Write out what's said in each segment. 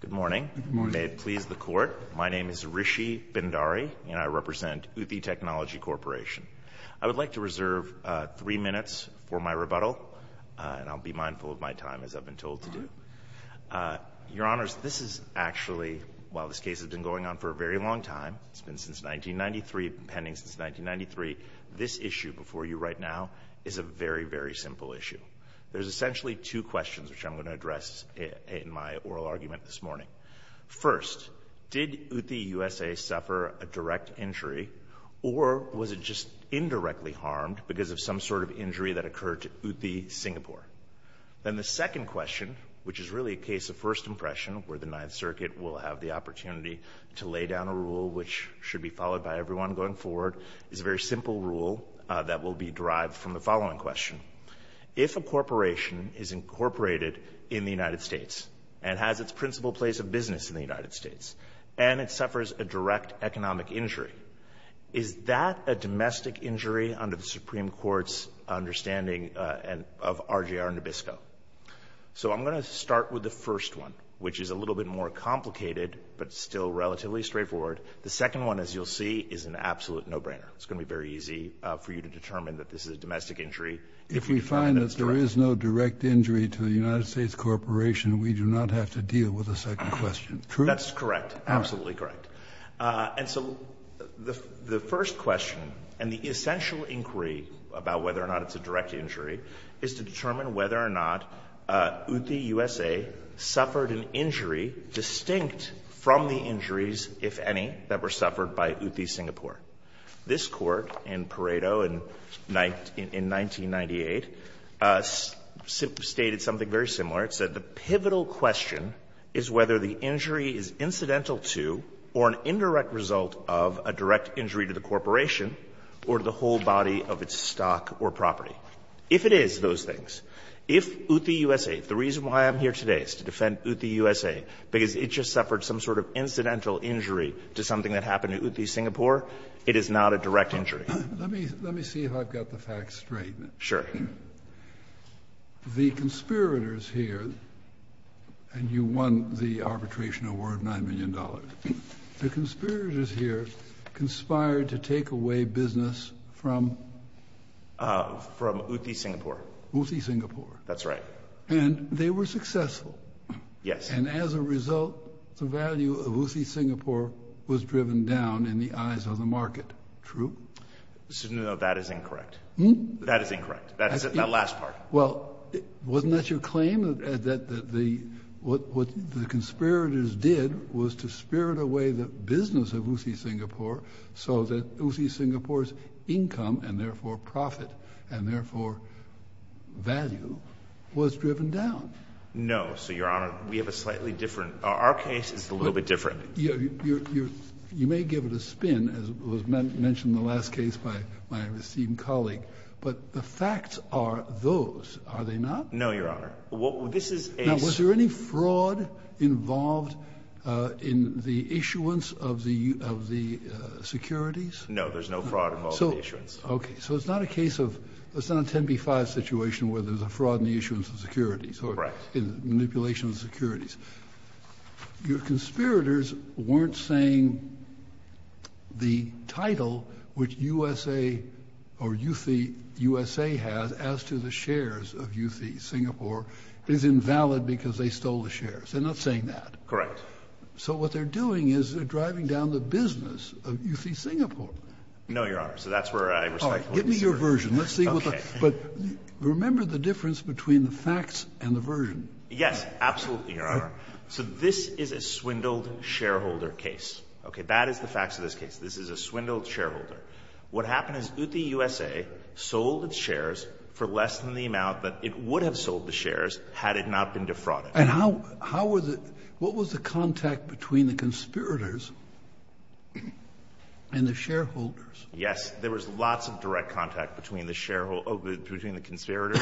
Good morning. May it please the Court. My name is Rishi Bindari, and I represent UTHE Technology Corporation. I would like to reserve three minutes for my rebuttal, and I'll be mindful of my time, as I've been told to do. Your Honors, this is actually, while this case has been going on for a very long time, it's been since 1993, pending since 1993, this issue before you right now is a very, very simple issue. There's essentially two questions which I'm going to address in my oral argument this morning. First, did UTHE USA suffer a direct injury, or was it just indirectly harmed because of some sort of injury that occurred to UTHE Singapore? Then the second question, which is really a case of first impression, where the Ninth Circuit will have the opportunity to lay down a rule which should be followed by everyone going forward, is a very simple rule that will be derived from the following question. If a corporation is incorporated in the United States and has its principal place of business in the United States, and it suffers a direct economic injury, is that a domestic injury under the Supreme Court's understanding of RJR Nabisco? So I'm going to start with the first one, which is a little bit more complicated, but still relatively straightforward. The second one, as you'll see, is an absolute no-brainer. It's going to be very easy for you to determine that this is a domestic injury. If we find that there is no direct injury to the United States Corporation, we do not have to deal with the second question. True? That's correct. Absolutely correct. And so the first question, and the essential inquiry about whether or not it's a direct injury, is to determine whether or not UTHE USA suffered an injury distinct from the injuries, if any, that were suffered by UTHE Singapore. This Court in Pareto in 1998 stated something very similar. It said the pivotal question is whether the injury is incidental to or an indirect result of a direct injury to the corporation or to the whole body of its stock or property. If it is those things, if UTHE USA, the reason why I'm here today is to defend UTHE USA, because it just suffered some sort of incidental injury to something that happened to UTHE Singapore, it is not a direct injury. Let me see if I've got the facts straight. Sure. The conspirators here, and you won the arbitration award of $9 million, the conspirators here conspired to take away business from? From UTHE Singapore. UTHE Singapore. That's right. And they were successful. Yes. And as a result, the value of UTHE Singapore was driven down in the eyes of the market. True? No, that is incorrect. That is incorrect. That last part. Well, wasn't that your claim that what the conspirators did was to spirit away the business of UTHE Singapore so that UTHE Singapore's income and, therefore, profit and, therefore, value was driven down? No. So, Your Honor, we have a slightly different – our case is a little bit different. You may give it a spin, as was mentioned in the last case by my esteemed colleague, but the facts are those, are they not? No, Your Honor. Now, was there any fraud involved in the issuance of the securities? No, there's no fraud involved in the issuance. Okay. So it's not a case of – it's not a 10B-5 situation where there's a fraud in the issuance of securities or manipulation of securities. Your conspirators weren't saying the title which USA or UTHE USA has as to the shares of UTHE Singapore is invalid because they stole the shares. They're not saying that. Correct. So what they're doing is they're driving down the business of UTHE Singapore. No, Your Honor. So that's where I respect what you said. All right. Give me your version. Let's see what the – but remember the difference between the facts and the version. Yes, absolutely, Your Honor. So this is a swindled shareholder case. Okay. That is the facts of this case. This is a swindled shareholder. What happened is UTHE USA sold its shares for less than the amount that it would have sold the shares had it not been defrauded. And how was it – what was the contact between the conspirators and the shareholders? Yes. There was lots of direct contact between the conspirators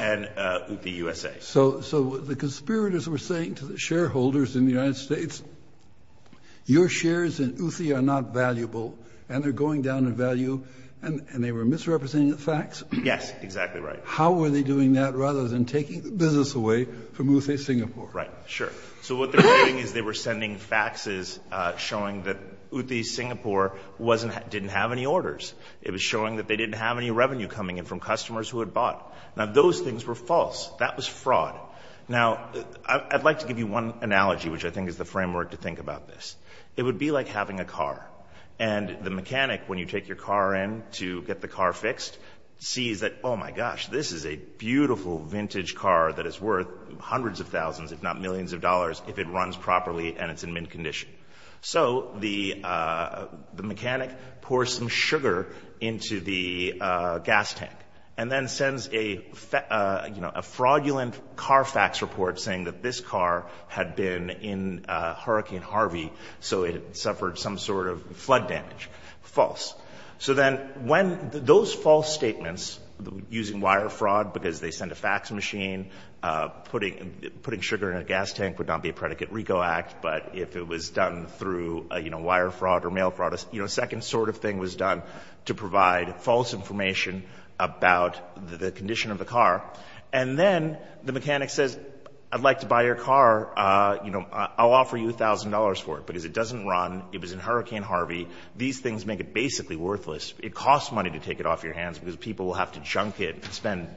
and UTHE USA. So the conspirators were saying to the shareholders in the United States, your shares in UTHE are not valuable, and they're going down in value, and they were misrepresenting the facts? Yes, exactly right. How were they doing that rather than taking the business away from UTHE Singapore? Right. Sure. So what they're doing is they were sending faxes showing that UTHE Singapore didn't have any orders. It was showing that they didn't have any revenue coming in from customers who had bought. Now, those things were false. That was fraud. Now, I'd like to give you one analogy, which I think is the framework to think about this. It would be like having a car, and the mechanic, when you take your car in to get the car fixed, sees that, oh, my gosh, this is a beautiful vintage car that is worth hundreds of thousands, if not millions of dollars, if it runs properly and it's in mint condition. So the mechanic pours some sugar into the gas tank and then sends a fraudulent car fax report saying that this car had been in Hurricane Harvey, so it suffered some sort of flood damage. False. So then when those false statements, using wire fraud because they sent a fax machine, putting sugar in a gas tank would not be a predicate RICO Act, but if it was done through wire fraud or mail fraud, a second sort of thing was done to provide false information about the condition of the car. And then the mechanic says, I'd like to buy your car. I'll offer you $1,000 for it because it doesn't run. It was in Hurricane Harvey. These things make it basically worthless. It costs money to take it off your hands because people will have to junk it and spend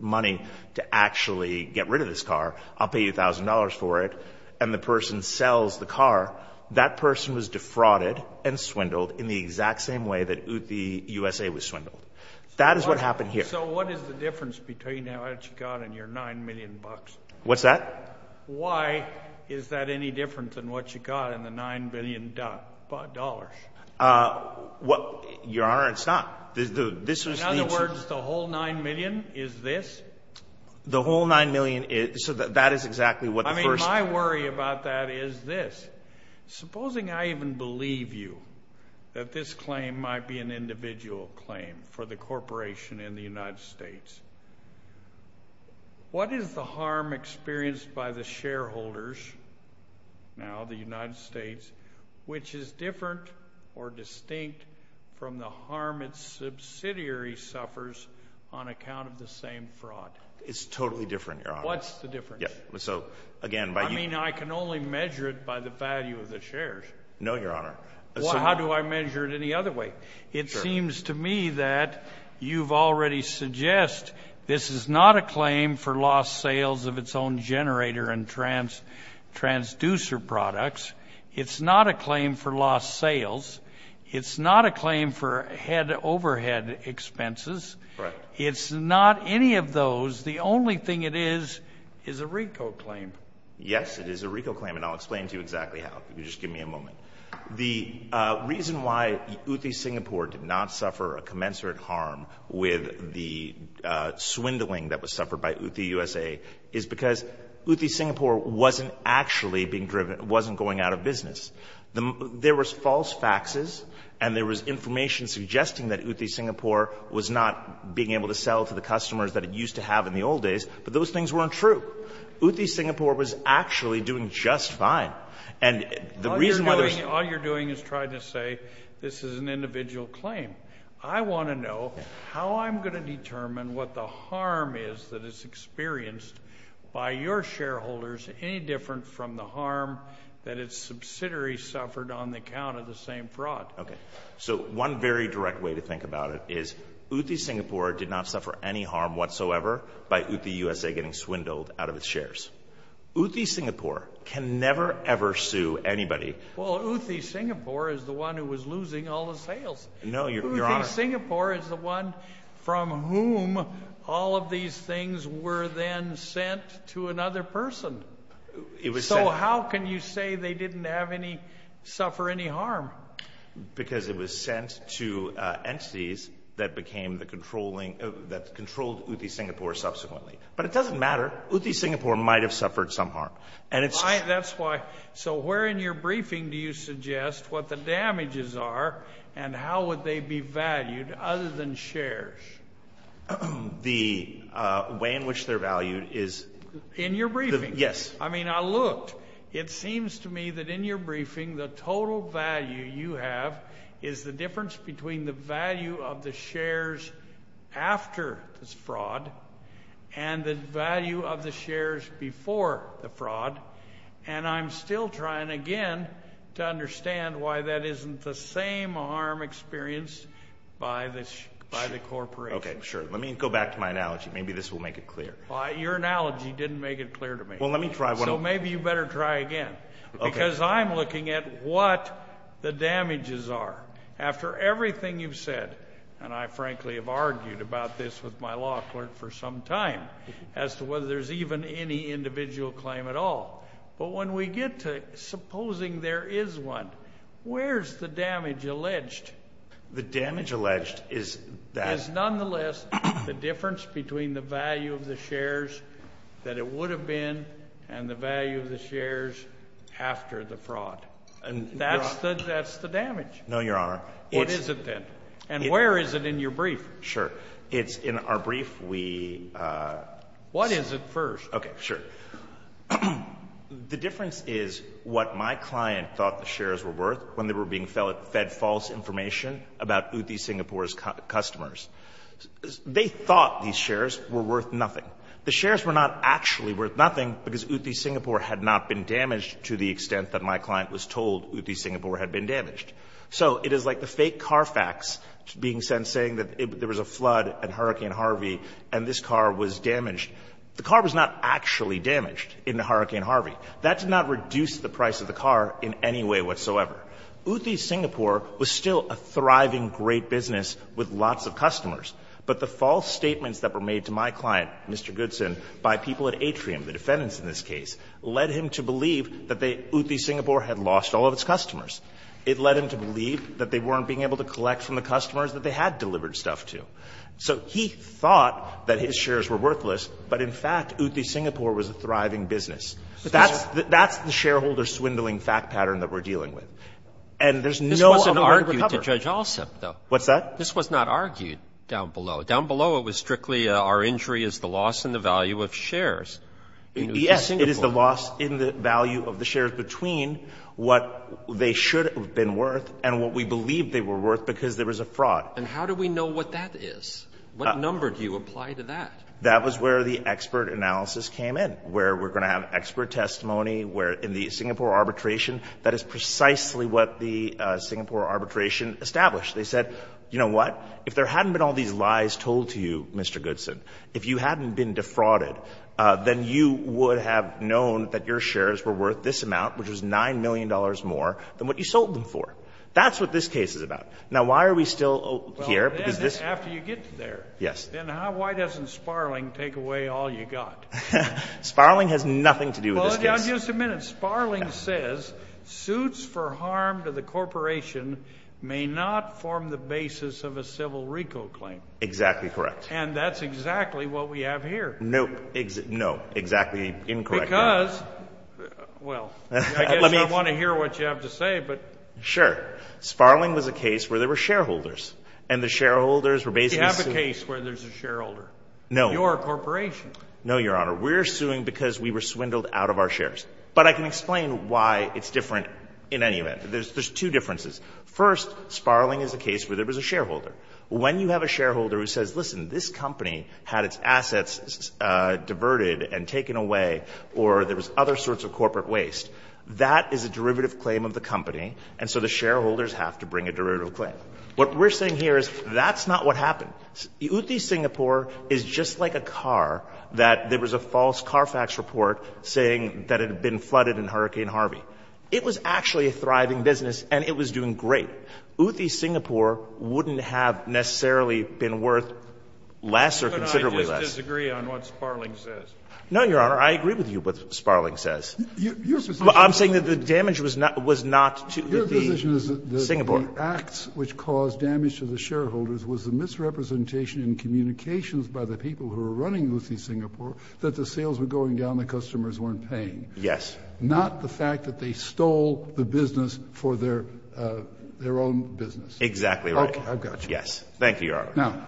money to actually get rid of this car. I'll pay you $1,000 for it. And the person sells the car. That person was defrauded and swindled in the exact same way that the USA was swindled. That is what happened here. So what is the difference between what you got and your $9 million? What's that? Why is that any different than what you got in the $9 billion? Your Honor, it's not. In other words, the whole $9 million is this? The whole $9 million is so that is exactly what the first. My worry about that is this. Supposing I even believe you that this claim might be an individual claim for the corporation in the United States. What is the harm experienced by the shareholders, now the United States, which is different or distinct from the harm its subsidiary suffers on account of the same fraud? It's totally different, Your Honor. What's the difference? I mean, I can only measure it by the value of the shares. No, Your Honor. How do I measure it any other way? It seems to me that you've already suggested this is not a claim for lost sales of its own generator and transducer products. It's not a claim for lost sales. It's not a claim for overhead expenses. It's not any of those. The only thing it is is a RICO claim. Yes, it is a RICO claim, and I'll explain to you exactly how. If you could just give me a moment. The reason why Ooty Singapore did not suffer a commensurate harm with the swindling that was suffered by Ooty USA is because Ooty Singapore wasn't actually being driven or wasn't going out of business. There was false faxes and there was information suggesting that Ooty Singapore was not being able to sell to the customers that it used to have in the old days, but those things weren't true. Ooty Singapore was actually doing just fine, and the reason why there was All you're doing is trying to say this is an individual claim. I want to know how I'm going to determine what the harm is that is experienced by your shareholders, any different from the harm that its subsidiaries suffered on the account of the same fraud. Okay, so one very direct way to think about it is Ooty Singapore did not suffer any harm whatsoever by Ooty USA getting swindled out of its shares. Ooty Singapore can never, ever sue anybody. Well, Ooty Singapore is the one who was losing all the sales. No, Your Honor. Ooty Singapore is the one from whom all of these things were then sent to another person. So how can you say they didn't suffer any harm? Because it was sent to entities that controlled Ooty Singapore subsequently. But it doesn't matter. Ooty Singapore might have suffered some harm. That's why. So where in your briefing do you suggest what the damages are and how would they be valued other than shares? The way in which they're valued is In your briefing? Yes. I mean, I looked. It seems to me that in your briefing the total value you have is the difference between the value of the shares after this fraud and the value of the shares before the fraud. And I'm still trying, again, to understand why that isn't the same harm experienced by the corporation. Okay, sure. Let me go back to my analogy. Maybe this will make it clear. Your analogy didn't make it clear to me. Well, let me try one more. So maybe you better try again. Okay. Because I'm looking at what the damages are after everything you've said. And I, frankly, have argued about this with my law clerk for some time as to whether there's even any individual claim at all. But when we get to supposing there is one, where's the damage alleged? The damage alleged is that the difference between the value of the shares that it would have been and the value of the shares after the fraud. And that's the damage. No, Your Honor. What is it then? And where is it in your brief? Sure. It's in our brief. We What is it first? Okay, sure. The difference is what my client thought the shares were worth when they were being fed false information about Ooty Singapore's customers. They thought these shares were worth nothing. The shares were not actually worth nothing because Ooty Singapore had not been damaged to the extent that my client was told Ooty Singapore had been damaged. So it is like the fake car facts being sent saying that there was a flood and Hurricane Harvey and this car was damaged. The car was not actually damaged in Hurricane Harvey. That did not reduce the price of the car in any way whatsoever. Ooty Singapore was still a thriving great business with lots of customers. But the false statements that were made to my client, Mr. Goodson, by people at Atrium, the defendants in this case, led him to believe that Ooty Singapore had lost all of its customers. It led him to believe that they weren't being able to collect from the customers that they had delivered stuff to. So he thought that his shares were worthless, but in fact Ooty Singapore was a thriving business. That's the shareholder swindling fact pattern that we're dealing with. And there's no other way to recover. This wasn't argued to Judge Alsop, though. What's that? This was not argued down below. Down below it was strictly our injury is the loss in the value of shares. Yes, it is the loss in the value of the shares between what they should have been worth and what we believe they were worth because there was a fraud. And how do we know what that is? What number do you apply to that? That was where the expert analysis came in, where we're going to have expert testimony, where in the Singapore arbitration, that is precisely what the Singapore arbitration established. They said, you know what, if there hadn't been all these lies told to you, Mr. Goodson, if you hadn't been defrauded, then you would have known that your shares were worth this amount, which was $9 million more than what you sold them for. That's what this case is about. Now, why are we still here? After you get there, then why doesn't Sparling take away all you got? Sparling has nothing to do with this case. Just a minute. Sparling says suits for harm to the corporation may not form the basis of a civil RICO claim. Exactly correct. And that's exactly what we have here. No, exactly incorrect. Because, well, I guess I want to hear what you have to say. Sure. Sparling was a case where there were shareholders, and the shareholders were basically sued. You have a case where there's a shareholder. No. You're a corporation. No, Your Honor. We're suing because we were swindled out of our shares. But I can explain why it's different in any event. There's two differences. First, Sparling is a case where there was a shareholder. When you have a shareholder who says, listen, this company had its assets diverted and taken away, or there was other sorts of corporate waste, that is a derivative claim of the company, and so the shareholders have to bring a derivative claim. What we're saying here is that's not what happened. Uthi Singapore is just like a car that there was a false Carfax report saying that it had been flooded in Hurricane Harvey. It was actually a thriving business, and it was doing great. Uthi Singapore wouldn't have necessarily been worth less or considerably less. Could I just disagree on what Sparling says? No, Your Honor. I agree with you what Sparling says. Your position is that the damage was not to Uthi Singapore. The acts which caused damage to the shareholders was a misrepresentation in communications by the people who were running Uthi Singapore that the sales were going down, the customers weren't paying. Yes. Not the fact that they stole the business for their own business. Exactly right. Yes. Thank you, Your Honor. Now,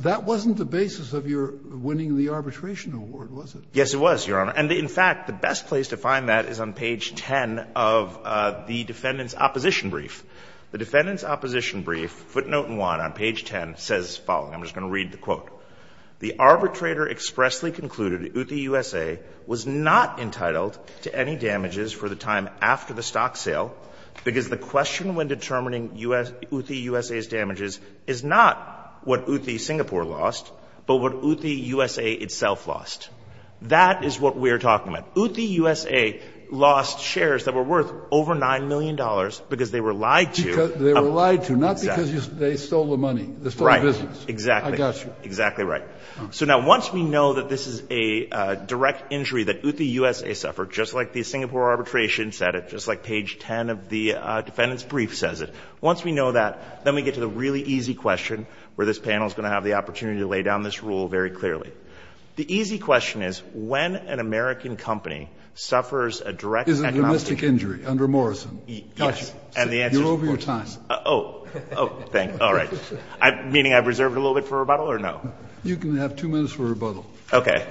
that wasn't the basis of your winning the arbitration award, was it? Yes, it was, Your Honor. And in fact, the best place to find that is on page 10 of the defendant's opposition brief. Footnote 1 on page 10 says the following. I'm just going to read the quote. The arbitrator expressly concluded Uthi USA was not entitled to any damages for the time after the stock sale because the question when determining Uthi USA's damages is not what Uthi Singapore lost but what Uthi USA itself lost. That is what we are talking about. Uthi USA lost shares that were worth over $9 million because they were lied to. They were lied to, not because they stole the money. They stole the business. Right. Exactly. I got you. Exactly right. So now once we know that this is a direct injury that Uthi USA suffered, just like the Singapore arbitration said it, just like page 10 of the defendant's brief says it, once we know that, then we get to the really easy question where this panel is going to have the opportunity to lay down this rule very clearly. The easy question is when an American company suffers a direct economic injury. Is it a domestic injury under Morrison? Yes. You're over your time. Oh. Thank you. All right. Meaning I've reserved a little bit for rebuttal or no? You can have two minutes for rebuttal. Okay.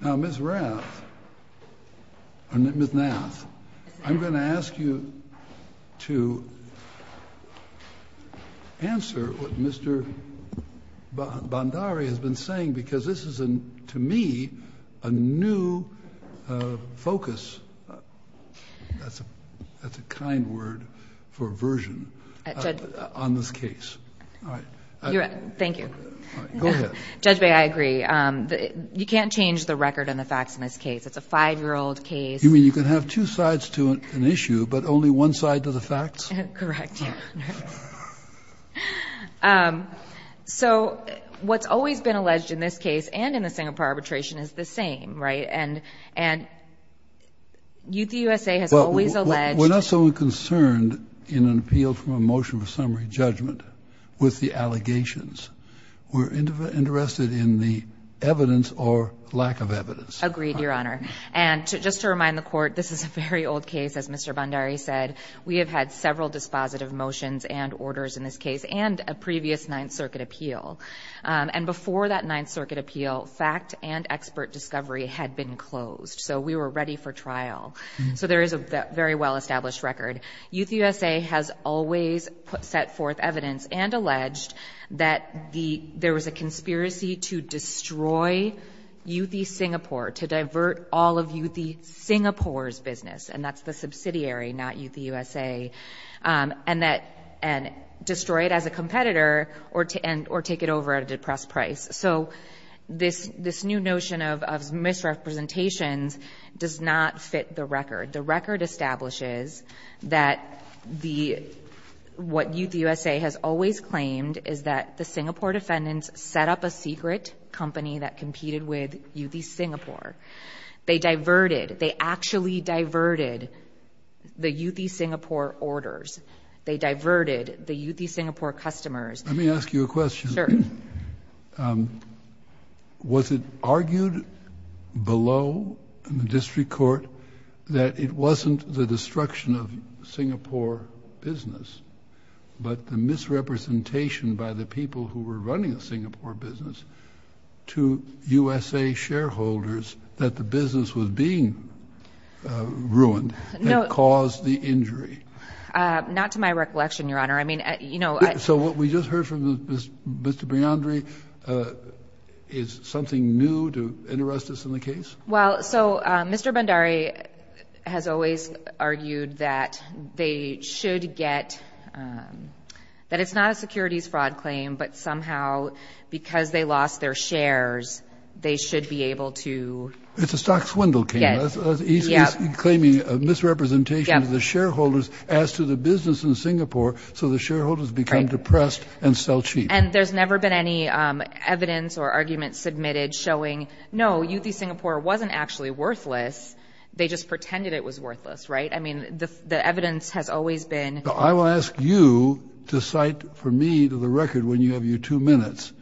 Now, Ms. Rath, or Ms. Nath, I'm going to ask you to answer what Mr. Bhandari has been saying because this is, to me, a new focus. That's a kind word for version on this case. All right. Thank you. All right. Go ahead. Judge, may I agree? You can't change the record and the facts in this case. It's a five-year-old case. You mean you can have two sides to an issue but only one side to the facts? Correct. So what's always been alleged in this case and in the Singapore arbitration is the same, right? And Youth USA has always alleged that the allegations were interested in the evidence or lack of evidence. Agreed, Your Honor. And just to remind the Court, this is a very old case. As Mr. Bhandari said, we have had several dispositive motions and orders in this case and a previous Ninth Circuit appeal. And before that Ninth Circuit appeal, fact and expert discovery had been closed, so we were ready for trial. So there is a very well-established record. Youth USA has always set forth evidence and alleged that there was a conspiracy to destroy Youthy Singapore, to divert all of Youthy Singapore's business, and that's the subsidiary, not Youthy USA, and destroy it as a competitor or take it over at a depressed price. So this new notion of misrepresentations does not fit the record. The record establishes that what Youthy USA has always claimed is that the Singapore defendants set up a secret company that competed with Youthy Singapore. They diverted. They actually diverted the Youthy Singapore orders. They diverted the Youthy Singapore customers. Let me ask you a question. Sure. Was it argued below in the district court that it wasn't the destruction of Singapore business, but the misrepresentation by the people who were running the Singapore business to USA shareholders that the business was being ruined and caused the injury? Not to my recollection, Your Honor. So what we just heard from Mr. Briandri, is something new to interest us in the case? Well, so Mr. Bhandari has always argued that they should get that it's not a securities fraud claim, but somehow because they lost their shares, they should be able to... It's a stock swindle claim. He's claiming a misrepresentation of the shareholders as to the business in Singapore, so the shareholders become depressed and sell cheap. And there's never been any evidence or arguments submitted showing, no, Youthy Singapore wasn't actually worthless. They just pretended it was worthless, right? I mean, the evidence has always been... I will ask you to cite for me to the record when you have your two minutes,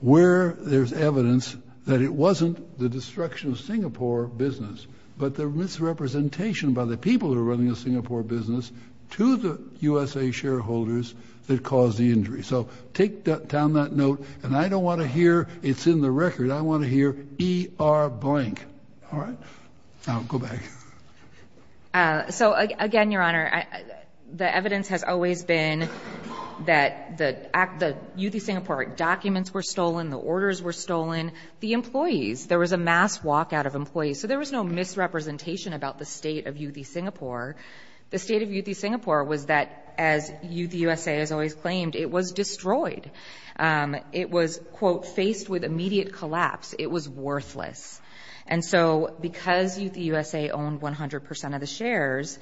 where there's evidence that it wasn't the destruction of Singapore business, but the misrepresentation by the people who are running a Singapore business to the USA shareholders that caused the injury. So take down that note, and I don't want to hear it's in the record. I want to hear E-R blank. All right? Now, go back. So, again, Your Honor, the evidence has always been that the Youthy Singapore documents were stolen, the orders were stolen, the employees. There was a mass walkout of employees. So there was no misrepresentation about the state of Youthy Singapore. The state of Youthy Singapore was that, as Youthy USA has always claimed, it was destroyed. It was, quote, faced with immediate collapse. It was worthless. And so because Youthy USA owned 100 percent of the shares,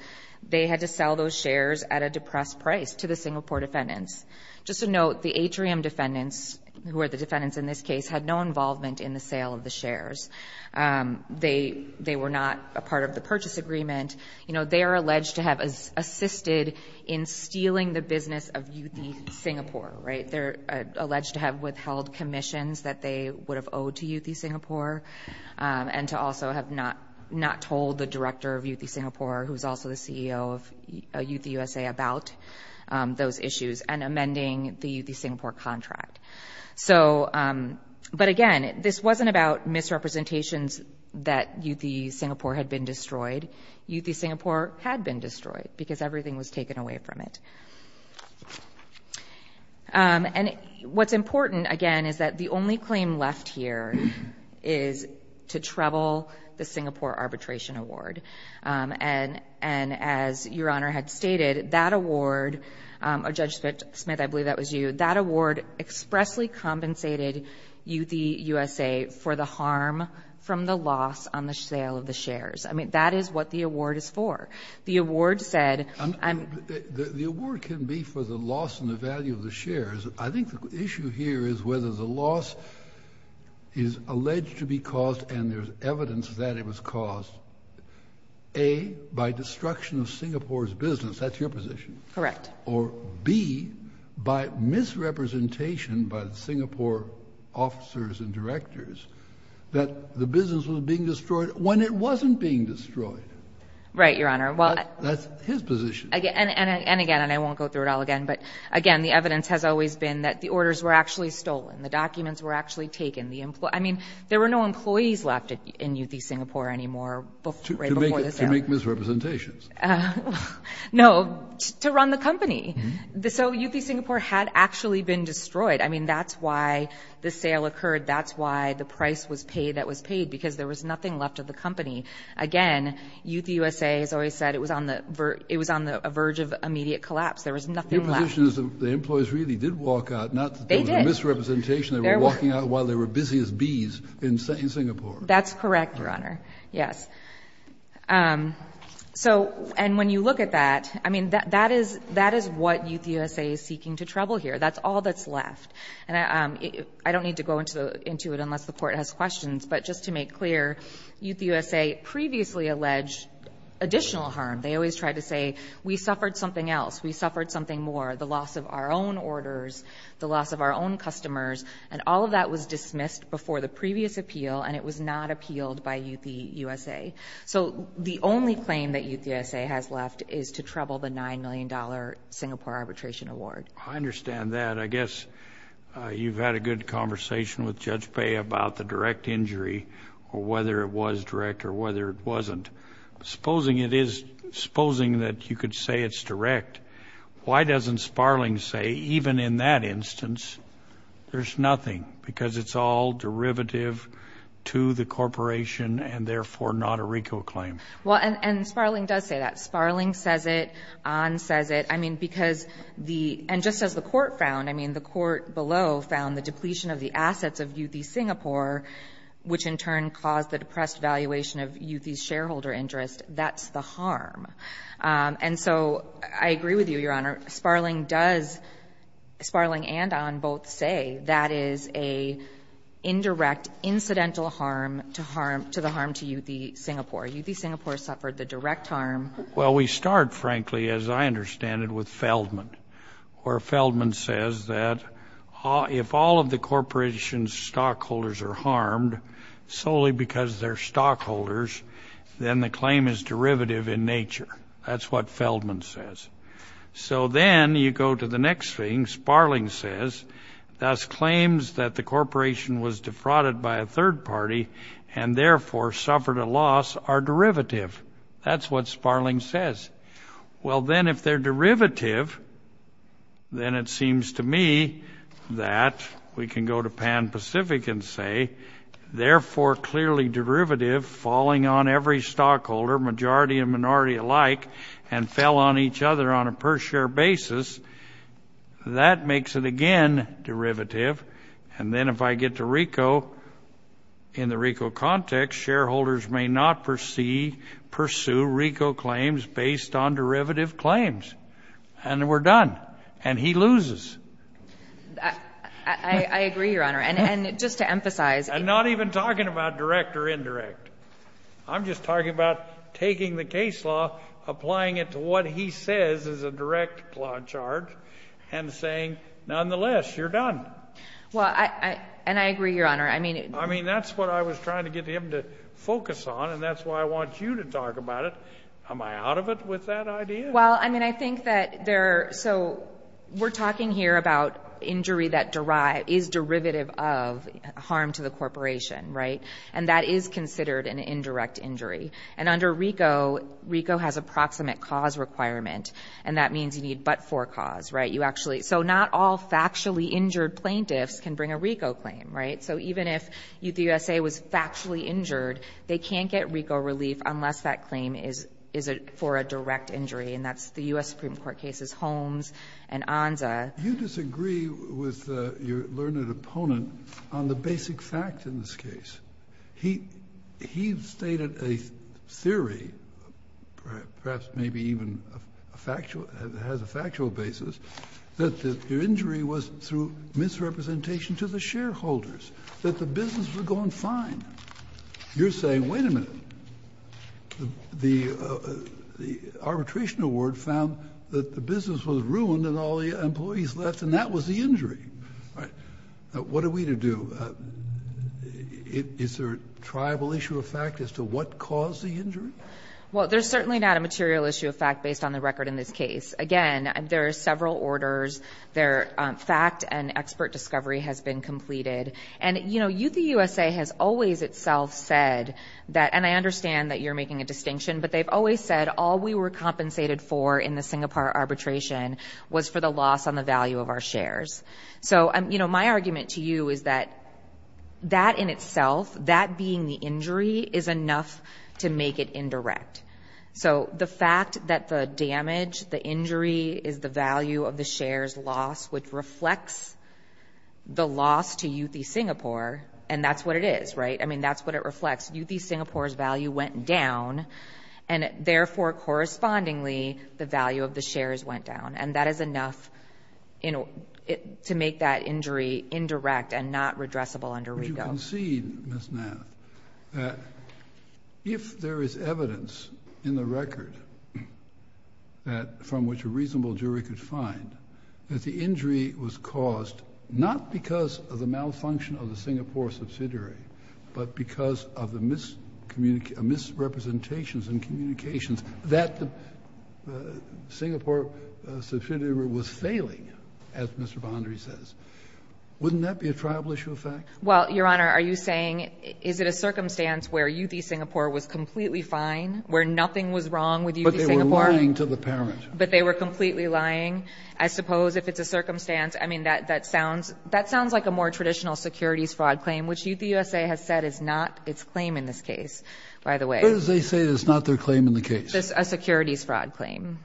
they had to sell those shares at a depressed price to the Singapore defendants. Just to note, the atrium defendants, who are the defendants in this case, had no involvement in the sale of the shares. They were not a part of the purchase agreement. You know, they are alleged to have assisted in stealing the business of Youthy Singapore, right? They're alleged to have withheld commissions that they would have owed to Youthy Singapore and to also have not told the director of Youthy Singapore, who is also the CEO of Youthy USA, about those issues and amending the Youthy Singapore contract. So, but, again, this wasn't about misrepresentations that Youthy Singapore had been destroyed. Youthy Singapore had been destroyed because everything was taken away from it. And what's important, again, is that the only claim left here is to treble the Singapore arbitration award. And as Your Honor had stated, that award, Judge Smith, I believe that was you, that award expressly compensated Youthy USA for the harm from the loss on the sale of the shares. I mean, that is what the award is for. The award can be for the loss in the value of the shares. I think the issue here is whether the loss is alleged to be caused and there's evidence that it was caused, A, by destruction of Singapore's business, that's your position. Correct. Or B, by misrepresentation by Singapore officers and directors that the business was being destroyed when it wasn't being destroyed. Right, Your Honor. That's his position. And again, and I won't go through it all again, but, again, the evidence has always been that the orders were actually stolen. The documents were actually taken. I mean, there were no employees left in Youthy Singapore anymore right before the sale. To make misrepresentations. No, to run the company. So Youthy Singapore had actually been destroyed. I mean, that's why the sale occurred. That's why the price was paid that was paid because there was nothing left of the company. Again, Youth USA has always said it was on the verge of immediate collapse. There was nothing left. Your position is that the employees really did walk out. They did. Not that there was a misrepresentation. They were walking out while they were busy as bees in Singapore. That's correct, Your Honor. Yes. And when you look at that, I mean, that is what Youth USA is seeking to trouble here. That's all that's left. And I don't need to go into it unless the Court has questions. But just to make clear, Youth USA previously alleged additional harm. They always tried to say we suffered something else. We suffered something more, the loss of our own orders, the loss of our own customers. And all of that was dismissed before the previous appeal, and it was not appealed by Youth USA. So the only claim that Youth USA has left is to trouble the $9 million Singapore Arbitration Award. I understand that. But I guess you've had a good conversation with Judge Bayh about the direct injury or whether it was direct or whether it wasn't. Supposing it is, supposing that you could say it's direct, why doesn't Sparling say even in that instance there's nothing because it's all derivative to the corporation and therefore not a RICO claim? Well, and Sparling does say that. Sparling says it. Ahn says it. I mean, because the — and just as the Court found, I mean, the Court below found the depletion of the assets of Youthy Singapore, which in turn caused the depressed valuation of Youthy's shareholder interest, that's the harm. And so I agree with you, Your Honor. Sparling does — Sparling and Ahn both say that is an indirect, incidental harm to the harm to Youthy Singapore. Youthy Singapore suffered the direct harm. Well, we start, frankly, as I understand it, with Feldman, where Feldman says that if all of the corporation's stockholders are harmed solely because they're stockholders, then the claim is derivative in nature. That's what Feldman says. So then you go to the next thing. Sparling says thus claims that the corporation was defrauded by a third party and therefore suffered a loss are derivative. That's what Sparling says. Well, then if they're derivative, then it seems to me that we can go to Pan Pacific and say, therefore clearly derivative, falling on every stockholder, majority and minority alike, and fell on each other on a per-share basis, that makes it again derivative. And then if I get to RICO, in the RICO context, shareholders may not pursue RICO claims based on derivative claims. And we're done. And he loses. I agree, Your Honor. And just to emphasize — I'm not even talking about direct or indirect. I'm just talking about taking the case law, applying it to what he says is a direct law charge, and saying, nonetheless, you're done. Well, and I agree, Your Honor. I mean — I mean, that's what I was trying to get him to focus on, and that's why I want you to talk about it. Am I out of it with that idea? Well, I mean, I think that there — so we're talking here about injury that is derivative of harm to the corporation, right? And that is considered an indirect injury. And under RICO, RICO has a proximate cause requirement, and that means you need but-for cause, right? You actually — so not all factually injured plaintiffs can bring a RICO claim, right? So even if the U.S.A. was factually injured, they can't get RICO relief unless that claim is for a direct injury, and that's the U.S. Supreme Court cases Holmes and Onza. You disagree with your learned opponent on the basic fact in this case. He — he stated a theory, perhaps maybe even a factual — has a factual basis, that the injury was through misrepresentation to the shareholders, that the business was going fine. You're saying, wait a minute. The — the arbitration award found that the business was ruined and all the employees left, and that was the injury. All right. What are we to do? Is there a triable issue of fact as to what caused the injury? Well, there's certainly not a material issue of fact based on the record in this case. Again, there are several orders. There — fact and expert discovery has been completed. And, you know, Youth of the U.S.A. has always itself said that — and I understand that you're making a distinction, but they've always said all we were compensated for in the Singapore arbitration was for the loss on the value of our shares. So, you know, my argument to you is that that in itself, that being the injury, is enough to make it indirect. So the fact that the damage, the injury, is the value of the shares lost, which reflects the loss to Youthy Singapore, and that's what it is, right? I mean, that's what it reflects. Youthy Singapore's value went down, and therefore, correspondingly, the value of the shares went down. And that is enough, you know, to make that injury indirect and not redressable under Rego. But you concede, Ms. Nath, that if there is evidence in the record that — from which a reasonable jury could find that the injury was caused not because of the malfunction of the Singapore subsidiary, but because of the misrepresentations and communications that the Singapore subsidiary was failing, as Mr. Bondry says, wouldn't that be a tribal issue of fact? Well, Your Honor, are you saying is it a circumstance where Youthy Singapore was completely fine, where nothing was wrong with Youthy Singapore? But they were lying to the parent. But they were completely lying. I suppose if it's a circumstance, I mean, that sounds — that sounds like a more traditional securities fraud claim, which Youthy USA has said is not its claim in this case, by the way. Where does they say it's not their claim in the case? A securities fraud claim.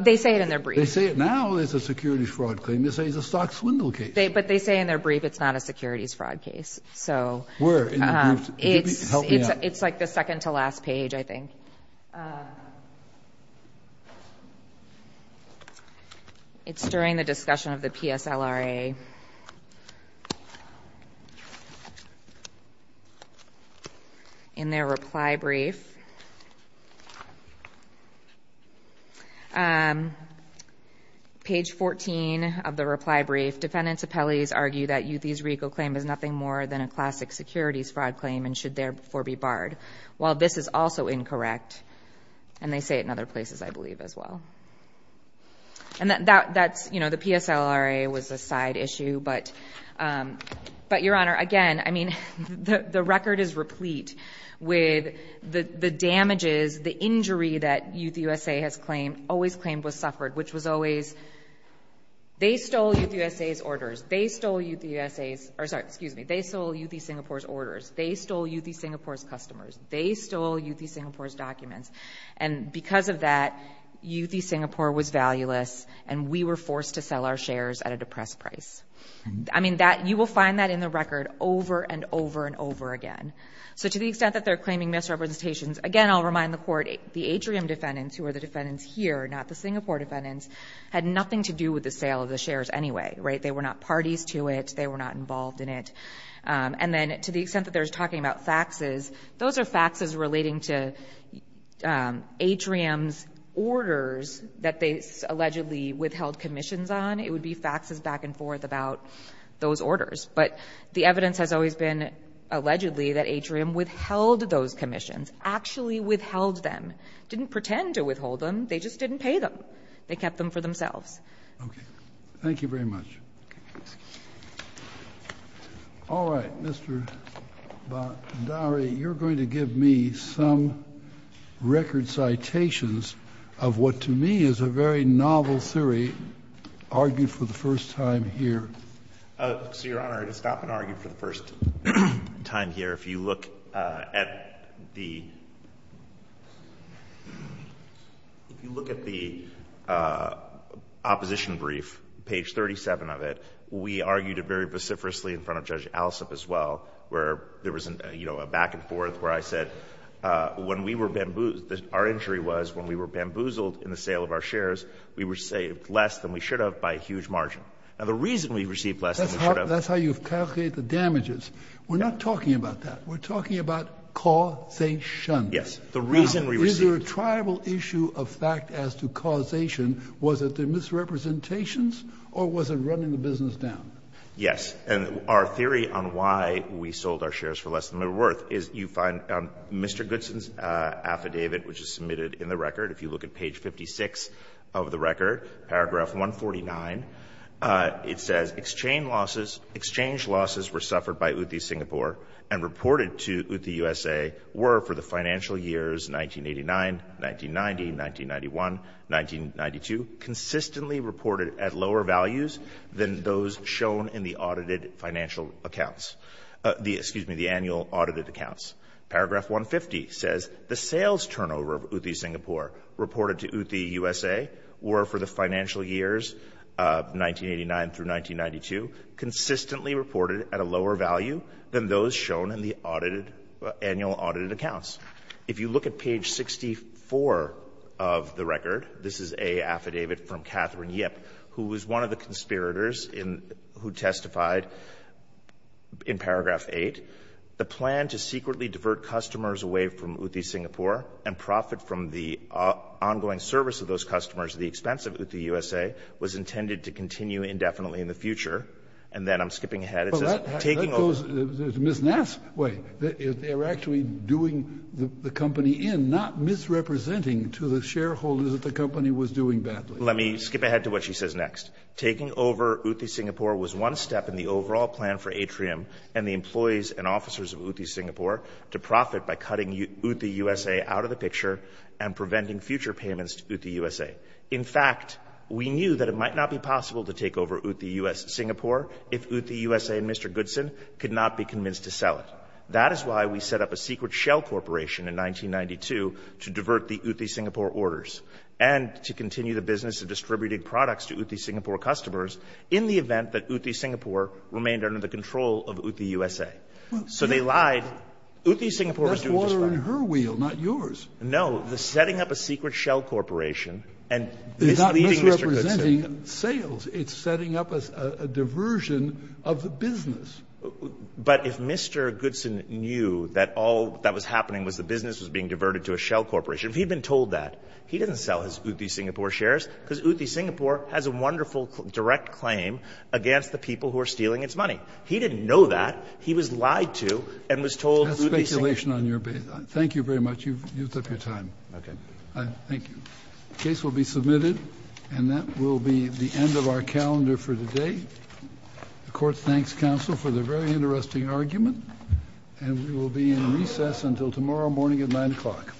They say it in their brief. They say it now is a securities fraud claim. They say it's a stock swindle case. But they say in their brief it's not a securities fraud case. So it's like the second-to-last page, I think. It's during the discussion of the PSLRA. In their reply brief, page 14 of the reply brief, defendants' appellees argue that Youthy's RICO claim is nothing more than a classic securities fraud claim and should therefore be barred. While this is also incorrect. And they say it in other places, I believe, as well. And that's — you know, the PSLRA was a side issue. But, Your Honor, again, I mean, the record is replete with the damages, the injury that Youthy USA has claimed, always claimed, was suffered, which was always — they stole Youthy USA's orders. They stole Youthy USA's — or, sorry, excuse me. They stole Youthy Singapore's orders. They stole Youthy Singapore's customers. They stole Youthy Singapore's documents. And because of that, Youthy Singapore was valueless, and we were forced to sell our shares at a depressed price. I mean, that — you will find that in the record over and over and over again. So to the extent that they're claiming misrepresentations, again, I'll remind the Court, the Atrium defendants, who are the defendants here, not the Singapore defendants, had nothing to do with the sale of the shares anyway. Right? They were not parties to it. They were not involved in it. And then to the extent that they're talking about faxes, those are faxes relating to Atrium's orders that they allegedly withheld commissions on. It would be faxes back and forth about those orders. But the evidence has always been, allegedly, that Atrium withheld those commissions, actually withheld them, didn't pretend to withhold them. They just didn't pay them. They kept them for themselves. Okay. Thank you very much. All right. Mr. Bhandari, you're going to give me some record citations of what to me is a very novel theory argued for the first time here. So, Your Honor, to stop and argue for the first time here, if you look at the — if you look at the opposition brief, page 37 of it, we argued it very vociferously in front of Judge Alsop as well, where there was, you know, a back-and-forth where I said when we were bamboozled — our injury was when we were bamboozled in the sale of our shares, we were saved less than we should have by a huge margin. Now, the reason we received less than we should have — That's how you calculate the damages. We're not talking about that. We're talking about causation. Yes. The reason we received — Was it a tribal issue of fact as to causation? Was it the misrepresentations, or was it running the business down? Yes. And our theory on why we sold our shares for less than they were worth is you find Mr. Goodson's affidavit, which is submitted in the record, if you look at page 56 of the record, paragraph 149, it says, Paragraph 150 says, consistently reported at a lower value than those shown in the audited — annual audited accounts. If you look at page 64 of the record, this is an affidavit from Catherine Yip, who was one of the conspirators in — who testified in paragraph 8, And then I'm skipping ahead. It says — Well, that goes Ms. Nass' way. They're actually doing the company in, not misrepresenting to the shareholders that the company was doing badly. Let me skip ahead to what she says next. Taking over Uti Singapore was one step in the overall plan for Atrium and the employees and officers of Uti Singapore to profit by cutting Uti USA out of the picture and preventing future payments to Uti USA. In fact, we knew that it might not be possible to take over Uti Singapore if Uti USA and Mr. Goodson could not be convinced to sell it. That is why we set up a secret shell corporation in 1992 to divert the Uti Singapore orders and to continue the business of distributing products to Uti Singapore customers in the event that Uti Singapore remained under the control of Uti USA. So they lied. Uti Singapore was doing just fine. That's water in her wheel, not yours. No. The setting up a secret shell corporation and misleading Mr. Goodson. It's not misrepresenting sales. It's setting up a diversion of the business. But if Mr. Goodson knew that all that was happening was the business was being diverted to a shell corporation, if he had been told that, he didn't sell his Uti Singapore shares because Uti Singapore has a wonderful direct claim against the people who are stealing its money. He didn't know that. He was lied to and was told Uti Singapore. That's speculation on your behalf. Thank you very much. You've used up your time. Okay. Thank you. The case will be submitted, and that will be the end of our calendar for today. The court thanks counsel for the very interesting argument, and we will be in recess until tomorrow morning at 9 o'clock.